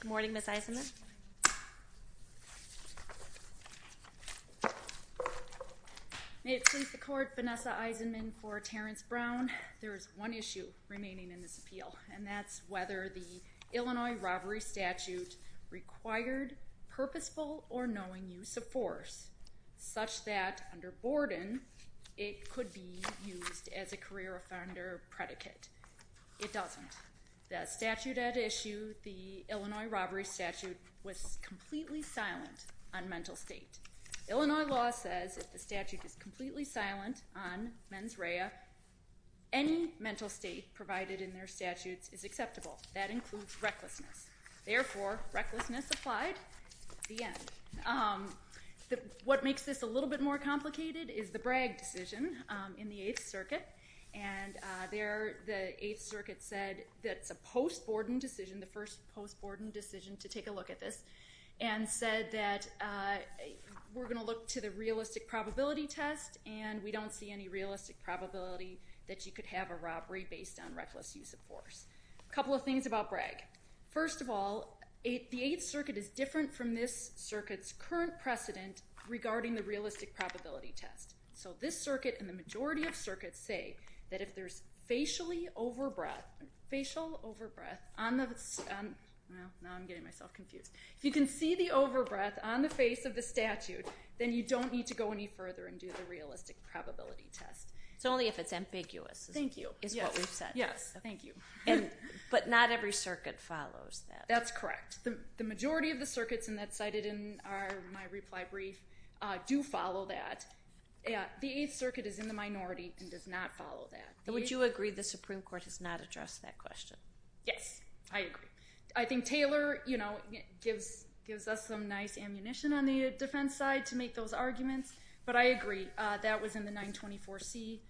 Good morning Ms. Eisenman May it please the court, Vanessa Eisenman In court Terrance Brown there is one issue remaining in this appeal and that's whether the Illinois robbery statute required purposeful or knowing use of force such that under Borden it could be used as a career offender predicate it doesn't the statute at issue the Illinois robbery statute was completely silent on mental state Illinois law says if the statute is silent on mens rea any mental state provided in their statutes is acceptable that includes recklessness therefore recklessness applied the end what makes this a little bit more complicated is the Bragg decision in the 8th circuit and there the 8th circuit said that's a post Borden decision the first post Borden decision to take a look at this and said that we're going to look to the realistic probability test and we don't see any realistic probability that you could have a robbery based on reckless use of force a couple of things about Bragg first of all the 8th circuit is different from this circuit's current precedent regarding the realistic probability test so this circuit and the majority of circuits say that if there's a facially over breath facial over breath on the now I'm getting myself confused you can see the over breath on the face of the statute then you don't need to go any further and do the realistic probability test it's only if it's ambiguous thank you yes yes thank you and but not every circuit follows that that's correct the majority of the circuits and that's cited in our my reply brief do follow that yeah the 8th circuit is in the Supreme Court has not addressed that question yes I agree I think Taylor you know gives gives us some nice ammunition on the defense side to make those arguments but I agree that was in the 924 C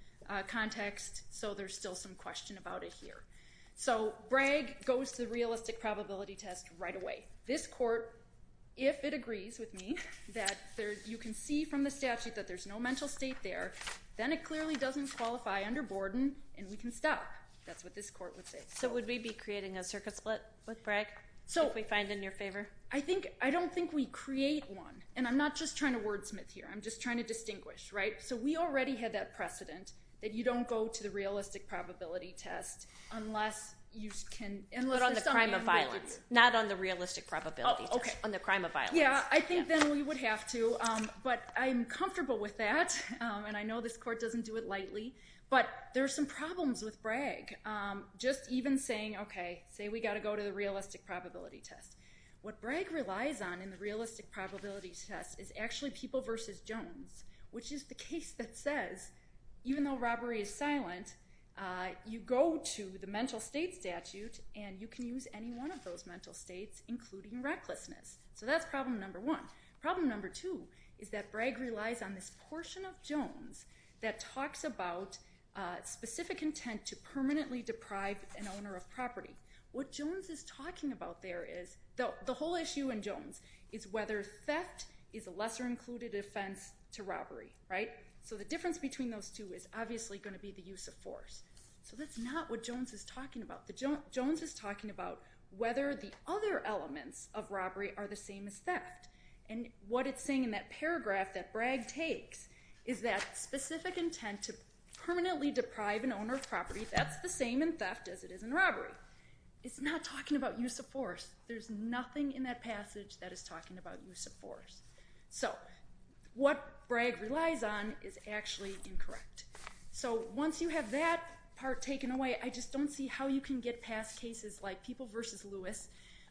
context so there's still some question about it here so Bragg goes to realistic probability test right away this court if it agrees with me that there you can see from the statute that there's no mental state there then it clearly doesn't qualify under Borden and we can stop that's what this court would say so would we be creating a circuit split with Bragg so we find in your favor I think I don't think we create one and I'm not just trying to wordsmith here I'm just trying to distinguish right so we already had that precedent that you don't go to the realistic probability test unless you can unless on the crime of violence not on the realistic probability okay on the crime of violence yeah I think then we would have to but I'm comfortable with that and I know this court doesn't do it lightly but there's some problems with Bragg just even saying okay say we got to go to the realistic probability test what Bragg relies on in the realistic probability test is actually people versus Jones which is the case that says even though robbery is silent you go to the mental state statute and you can use any one of those mental states including recklessness so that's problem number one problem number two is that Bragg relies on this portion of Jones that talks about specific intent to permanently deprive an owner of property what Jones is talking about there is though the whole issue in Jones is whether theft is a lesser included offense to robbery right so the difference between those two is obviously going to be the use of force so that's not what Jones is talking about the Jones is talking about whether the other elements of robbery are the same as Bragg takes is that specific intent to permanently deprive an owner of property that's the same in theft as it is in robbery it's not talking about use of force there's nothing in that passage that is talking about use of force so what Bragg relies on is actually incorrect so once you have that part taken away I just don't see how you can get past cases like people versus Lewis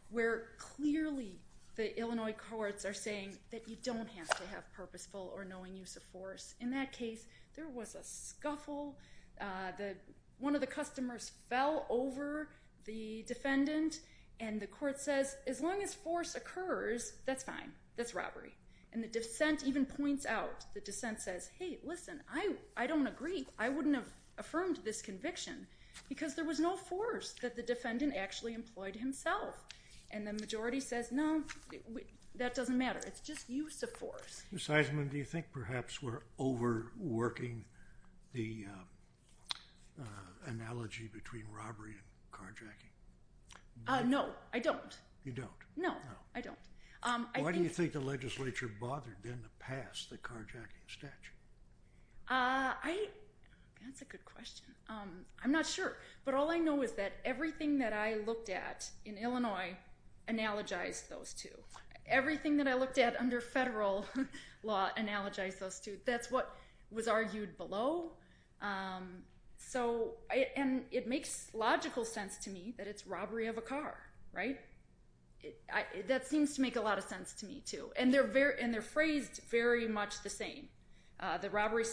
where clearly the Illinois courts are saying that you don't have to have purposeful or knowing use of force in that case there was a scuffle that one of the customers fell over the defendant and the court says as long as force occurs that's fine that's robbery and the dissent even points out the dissent says hey listen I I don't agree I wouldn't have affirmed this conviction because there was no force that the defendant actually employed himself and the majority says no that doesn't matter it's just use of force Ms. Eisman, do you think perhaps we're overworking the analogy between robbery and carjacking? No, I don't. You don't? No, I don't. Why do you think the legislature bothered then to pass the carjacking statute? That's a good question. I'm not sure but all I know is that everything that I looked at in Illinois analogized those two. Everything that I looked at under federal law analogized those two. That's what was argued below. So, and it makes logical sense to me that it's robbery of a car, right? That seems to make a lot of sense to me too. And they're phrased very much the same. The robbery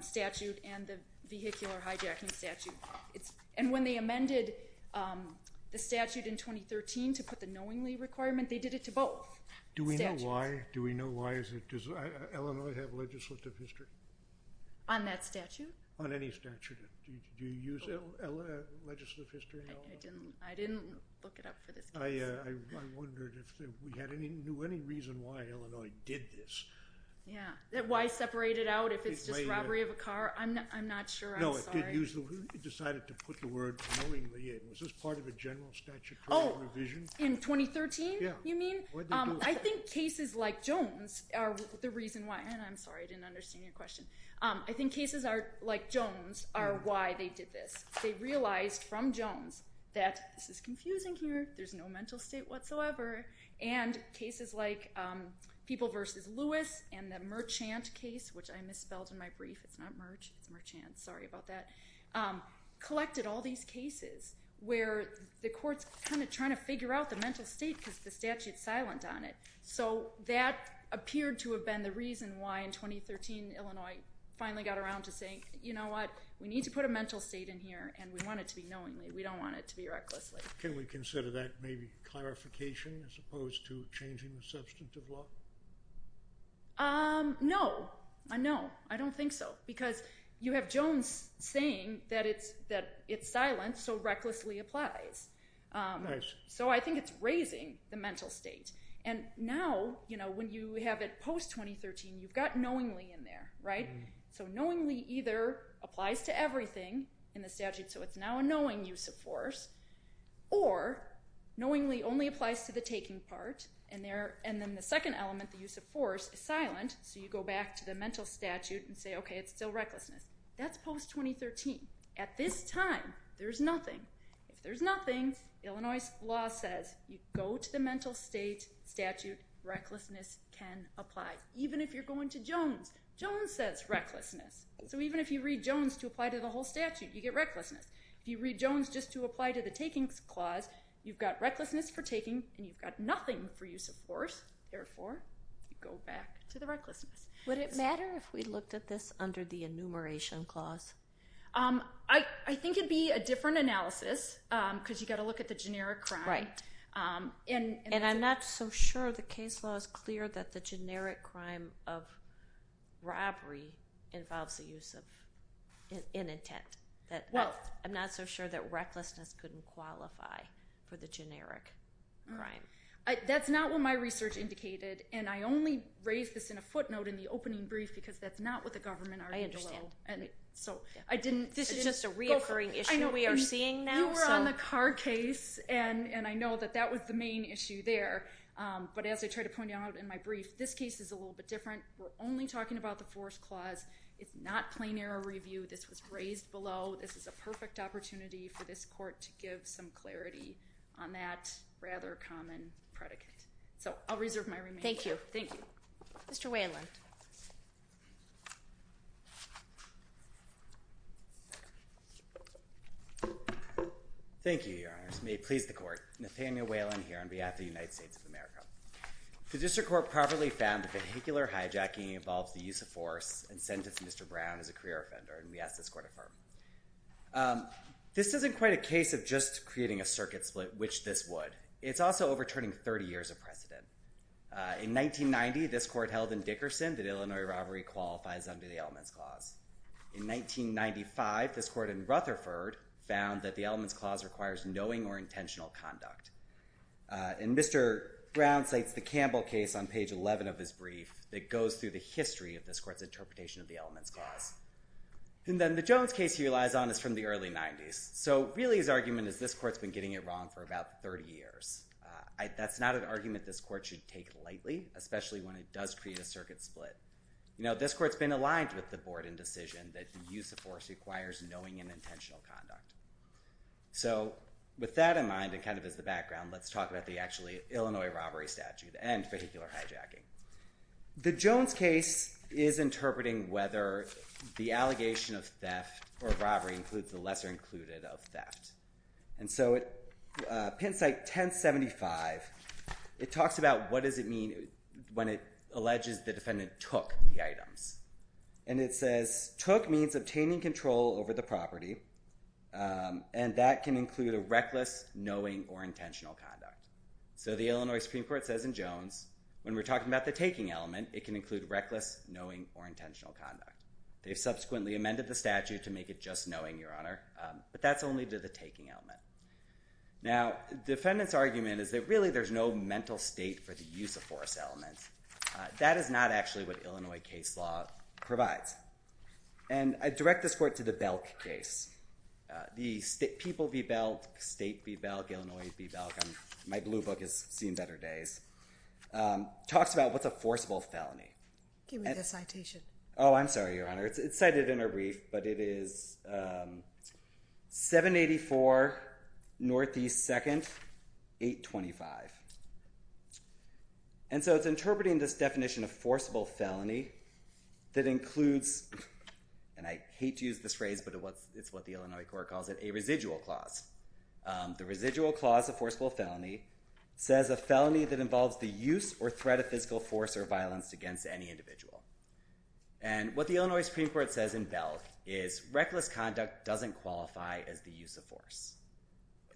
statute and the vehicular hijacking statute. And when they amended the statute in 2013 to put the knowingly requirement they did it to both statutes. Do we know why? Do we know why does Illinois have legislative history? On that statute? On any statute. Do you use legislative history in Illinois? I didn't look it up for this case. I wondered if we knew any reason why Illinois did this. Yeah, why separate it out if it's just robbery of a car? I'm not sure, I'm sorry. Who decided to put the word knowingly in? Was this part of a general statutory revision? Oh, in 2013? Yeah. You mean? I think cases like Jones are the reason why. And I'm sorry, I didn't understand your question. I think cases like Jones are why they did this. They realized from Jones that this is confusing here. There's no mental state whatsoever. And cases like People v. Lewis and the Merchant case, which I misspelled in my brief. It's Merchant, sorry about that. Collected all these cases where the court's kind of trying to figure out the mental state because the statute's silent on it. So that appeared to have been the reason why in 2013 Illinois finally got around to saying you know what, we need to put a mental state in here and we want it to be knowingly. We don't want it to be recklessly. Can we consider that maybe clarification as opposed to changing the substantive law? Um, no. No, I don't think so. Because you have Jones saying that it's silent so recklessly applies. Nice. So I think it's raising the mental state. And now, you know, when you have it post-2013, you've got knowingly in there, right? So knowingly either applies to everything in the statute, so it's now a knowing use of force. Or knowingly only applies to the taking part. And then the second element, the use of force, is silent so you go back to the mental statute and say okay, it's still recklessness. That's post-2013. At this time, there's nothing. If there's nothing, Illinois law says you go to the mental state statute, recklessness can apply. Even if you're going to Jones. Jones says recklessness. So even if you read Jones to apply to the whole statute, you get recklessness. If you read Jones just to apply to the taking clause, you've got recklessness for taking and you've got nothing for use of force. Therefore, you go back to the recklessness. Would it matter if we looked at this under the enumeration clause? I think it'd be a different analysis because you've got to look at the generic crime. Right. And I'm not so sure the case law is clear that the generic crime of robbery involves the use of an intent. I'm not so sure that recklessness couldn't qualify for the generic crime. That's not what my research indicated and I only raised this in a footnote in the opening brief because that's not what the government argued as well. I understand. This is just a reoccurring issue we are seeing now. You were on the Carr case and I know that that was the main issue there. But as I tried to point out in my brief, this case is a little bit different. We're only talking about the force clause. It's not plain error review. This was raised below. This is a perfect opportunity for this court to give some clarity on that rather common predicate. So I'll reserve my remaining time. Thank you. Thank you. Mr. Whalen. Thank you, Your Honors. May it please the court. Nathaniel Whalen here on behalf of the United States of America. The district court properly found that vehicular hijacking involves the use of force and sentenced Mr. Brown as a career offender and we ask this court to affirm. This isn't quite a case of just creating a circuit split, which this would. It's also overturning 30 years of precedent. In 1990, this court held in Dickerson that Illinois robbery qualifies under the elements clause. In 1995, this court in Rutherford found that the elements clause requires knowing or intentional conduct. And Mr. Brown cites the Campbell case on page 11 of his brief that goes through the history of this court's interpretation of the elements clause. And then the Jones case he relies on is from the early 90s. So really his argument is this court's been getting it wrong for about 30 years. That's not an argument this court should take lightly, especially when it does create a circuit split. This court's been aligned with the board in decision that the use of force requires knowing and intentional conduct. So with that in mind and kind of as the background, let's talk about the actually Illinois robbery statute and vehicular hijacking. The Jones case is interpreting whether the allegation of theft or robbery includes the lesser included of theft. And so at pen site 1075, it talks about what does it mean when it alleges the defendant took the items. And it says took means obtaining control over the property. And that can include a reckless, knowing, or intentional conduct. So the Illinois Supreme Court says in Jones, when we're talking about the taking element, it can include reckless, knowing, or intentional conduct. They've subsequently amended the statute to make it just knowing, Your Honor, but that's only to the taking element. Now, defendant's argument is that really there's no mental state for the use of force element. That is not actually what Illinois case law provides. And I direct this court to the Belk case. The people v. Belk, state v. Belk, Illinois v. Belk. My blue book has seen better days. Talks about what's a forcible felony. Give me the citation. Oh, I'm sorry, Your Honor. It's cited in a brief, but it is 784 Northeast 2nd, 825. And so it's interpreting this definition of forcible felony that includes, and I hate to use this phrase, but it's what the Illinois court calls it, a residual clause. The residual clause of forcible felony says a felony that involves the use or threat of physical force or violence against any individual. And what the Illinois Supreme Court says in Belk is reckless conduct doesn't qualify as the use of force.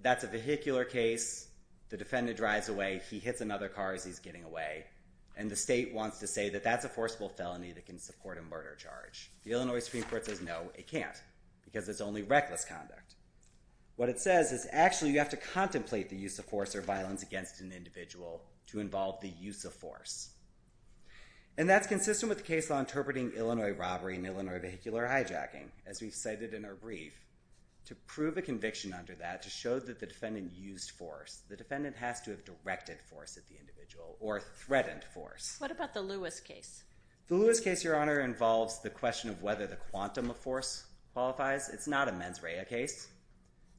That's a vehicular case. The defendant drives away, he hits another car as he's getting away, and the state wants to say that that's a forcible felony that can support a murder charge. The Illinois Supreme Court says no, it can't, because it's only reckless conduct. What it says is actually you have to contemplate the use of force or violence against an individual to involve the use of force. And that's consistent with the case law interpreting Illinois robbery and Illinois vehicular hijacking, as we've cited in our brief, to prove a conviction under that to show that the defendant used force. The defendant has to have directed force at the individual or threatened force. What about the Lewis case? The Lewis case, Your Honor, involves the question of whether the quantum of force qualifies. It's not a mens rea case.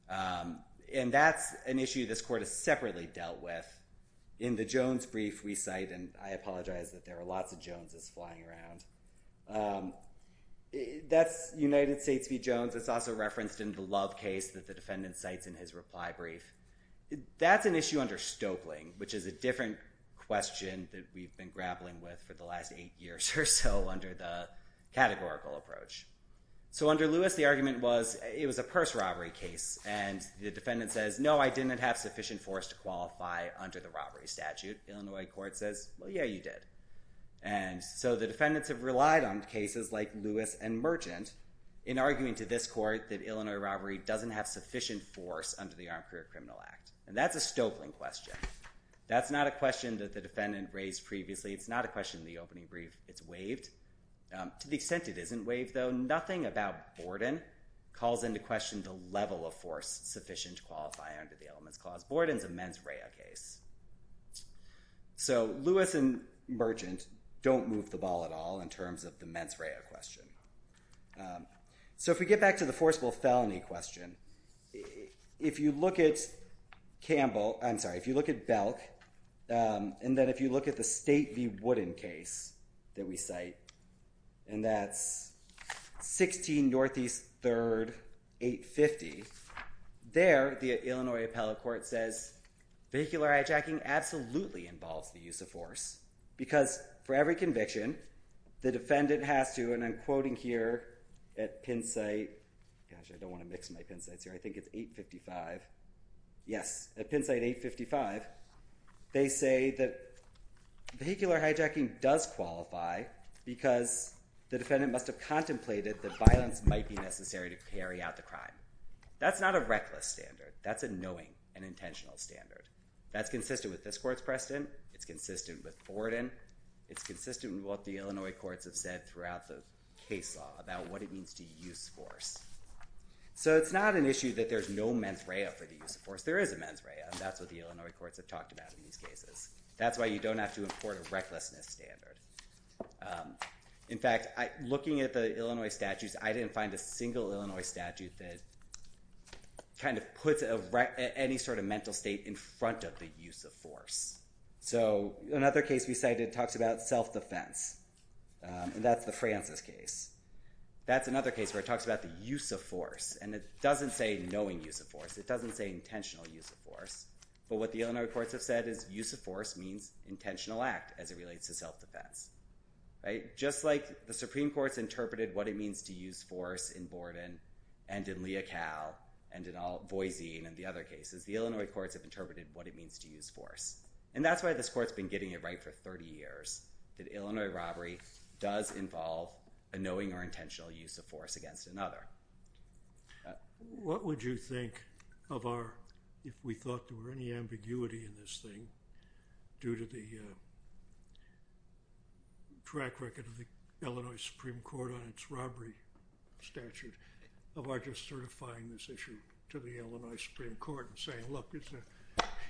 And that's an issue this court has separately dealt with. In the Jones brief we cite, and I apologize that there are lots of Joneses flying around, that's United States v. Jones. It's also referenced in the Love case that the defendant cites in his reply brief. That's an issue under Stoeckling, which is a different question that we've been grappling with for the last eight years or so under the categorical approach. So under Lewis, the argument was it was a purse robbery case. And the defendant says, no, I didn't have sufficient force to qualify under the robbery statute. Illinois court says, well, yeah, you did. And so the defendants have relied on cases like Lewis and Merchant in arguing to this court that Illinois robbery doesn't have sufficient force under the Armed Career Criminal Act. And that's a Stoeckling question. That's not a question that the defendant raised previously. It's not a question in the opening brief. It's waived. To the extent it isn't waived, though, nothing about Borden calls into question the level of force sufficient to qualify under the elements clause. Borden's a mens rea case. So Lewis and Merchant don't move the ball at all in terms of the mens rea question. So if we get back to the forcible felony question, if you look at Campbell, I'm sorry, if you look at Belk, and then if you look at the State v. Wooden case that we cite, and that's 16 Northeast 3rd, 850, there the Illinois appellate court for every conviction, the defendant has to, and I'm quoting here, at Penn site, gosh, I don't want to mix my Penn sites here, I think it's 855, yes, at Penn site 855, they say that vehicular hijacking does qualify because the defendant must have contemplated that violence might be necessary to carry out the crime. That's not a reckless standard. That's a knowing and intentional standard. That's consistent with this court's precedent. It's consistent with Borden. It's consistent with what the Illinois courts have said throughout the case law about what it means to use force. So it's not an issue that there's no mens rea for the use of force. There is a mens rea, and that's what the Illinois courts have talked about in these cases. That's why you don't have to import a recklessness standard. In fact, looking at the Illinois statutes, I didn't find a single Illinois statute that kind of puts any sort of mental state in front of the use of force. So another case we cited talks about self-defense, and that's the Francis case. That's another case where it talks about the use of force, and it doesn't say knowing use of force. It doesn't say intentional use of force. But what the Illinois courts have said is use of force means intentional act as it relates to self-defense. Just like the Supreme Court's interpreted what it means to use force in Borden and in Leocal and in Voisin and the other cases, the Illinois courts have interpreted what it means to use force. And that's why this court's been getting it right for 30 years, that Illinois robbery does involve a knowing or intentional use of force against another. What would you think of our, if we thought there were any ambiguity in this thing due to the track record of the Illinois Supreme Court on its robbery statute, of our just certifying this issue to the Illinois Supreme Court and saying, look,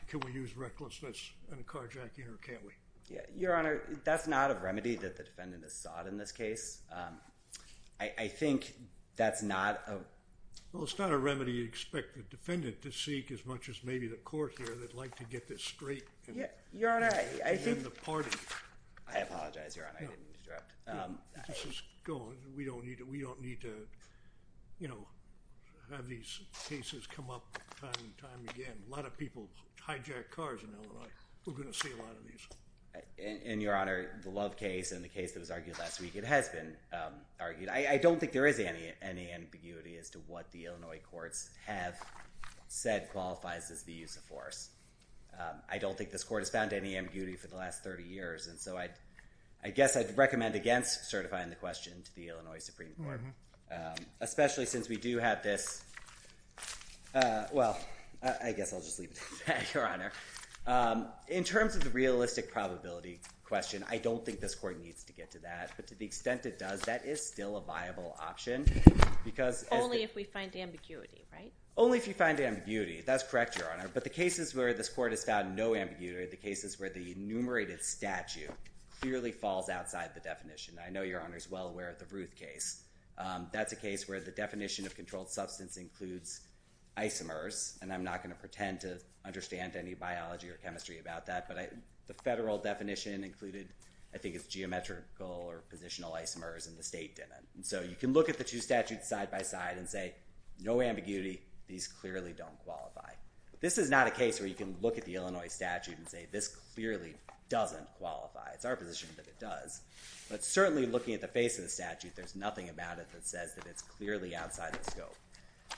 can we use recklessness in a carjacking, or can't we? Your Honor, that's not a remedy that the defendant has sought in this case. I think that's not a... Well, it's not a remedy you'd expect the defendant to seek as much as maybe the court here that'd like to get this straight and win the party. I apologize, Your Honor, I didn't mean to interrupt. This is going. We don't need to have these cases come up time and time again. A lot of people hijack cars in Illinois. We're going to see a lot of these. And, Your Honor, the Love case and the case that was argued last week, it has been argued. I don't think there is any ambiguity as to what the Illinois courts have said qualifies as the use of force. I don't think this court has found any ambiguity for the last 30 years, and so I guess I'd recommend against certifying the question to the Illinois Supreme Court, especially since we do have this... Well, I guess I'll just leave it at that, Your Honor. In terms of the realistic probability question, I don't think this court needs to get to that, but to the extent it does, that is still a viable option. Only if we find ambiguity, right? Only if you find ambiguity. That's correct, Your Honor, but the cases where this court has found no ambiguity are the cases where the enumerated statute clearly falls outside the definition. I know Your Honor is well aware of the Ruth case. That's a case where the definition of controlled substance includes isomers, and I'm not going to pretend to understand any biology or chemistry about that, but the federal definition included, I think, it's geometrical or positional isomers, and the state didn't. And so you can look at the two statutes side by side and say, no ambiguity. These clearly don't qualify. This is not a case where you can look at the Illinois statute and say, this clearly doesn't qualify. It's our position that it does. But certainly looking at the face of the statute, there's nothing about it that says that it's clearly outside the scope.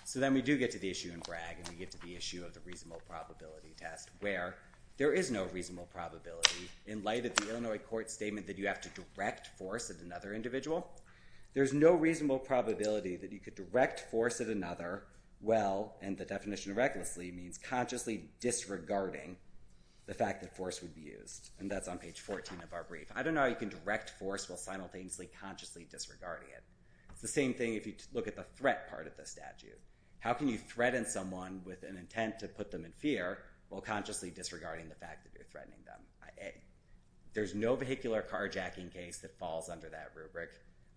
So then we do get to the issue in Bragg, and we get to the issue of the reasonable probability test, where there is no reasonable probability in light of the Illinois court statement that you have to direct force at another individual. There's no reasonable probability that you could direct force at another while, in the definition of recklessly, means consciously disregarding the fact that force would be used. And that's on page 14 of our brief. I don't know how you can direct force while simultaneously consciously disregarding it. It's the same thing if you look at the threat part of the statute. How can you threaten someone with an intent to put them in fear while consciously disregarding the fact that you're threatening them? There's no vehicular carjacking case that falls under that rubric.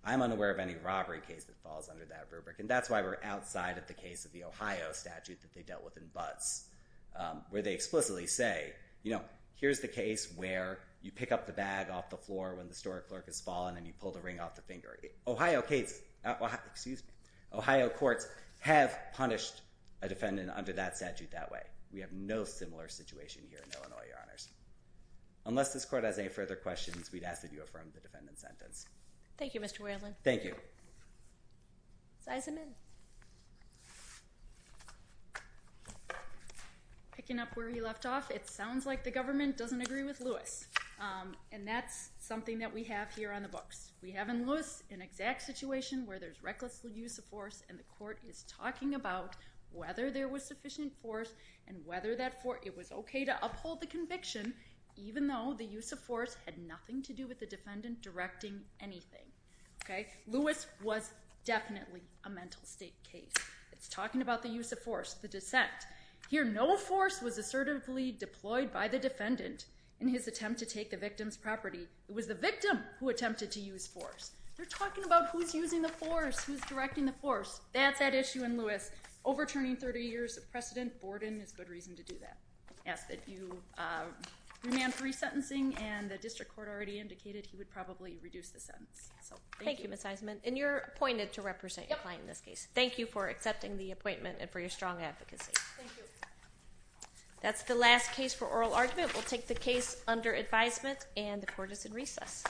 I'm unaware of any robbery case that falls under that rubric, and that's why we're outside of the case of the Ohio statute that they dealt with in Butts, where they explicitly say, here's the case where you pick up the bag off the floor when the store clerk has fallen, and you pull the ring off the finger. Ohio courts have punished a defendant under that statute that way. We have no similar situation here in Illinois, Your Honors. Unless this court has any further questions, we'd ask that you affirm the defendant's sentence. Thank you, Mr. Whalen. Thank you. Size him in. Picking up where he left off, it sounds like the government doesn't agree with Lewis. And that's something that we have here on the books. We have in Lewis an exact situation where there's reckless use of force, and the court is talking about whether there was sufficient force and whether it was okay to uphold the conviction, even though the use of force had nothing to do with the defendant directing anything. Lewis was definitely a mental state case. It's talking about the use of force, the dissent. Here, no force was assertively deployed by the defendant in his attempt to take the victim's property. It was the victim who attempted to use force. They're talking about who's using the force, who's directing the force. That's at issue in Lewis. Overturning 30 years of precedent, Borden is good reason to do that. I ask that you remand free sentencing, and the district court already indicated he would probably reduce the sentence. Thank you, Ms. Eisenman. And you're appointed to represent your client in this case. Thank you for accepting the appointment and for your strong advocacy. That's the last case for oral argument. We'll take the case under advisement, and the court is in recess.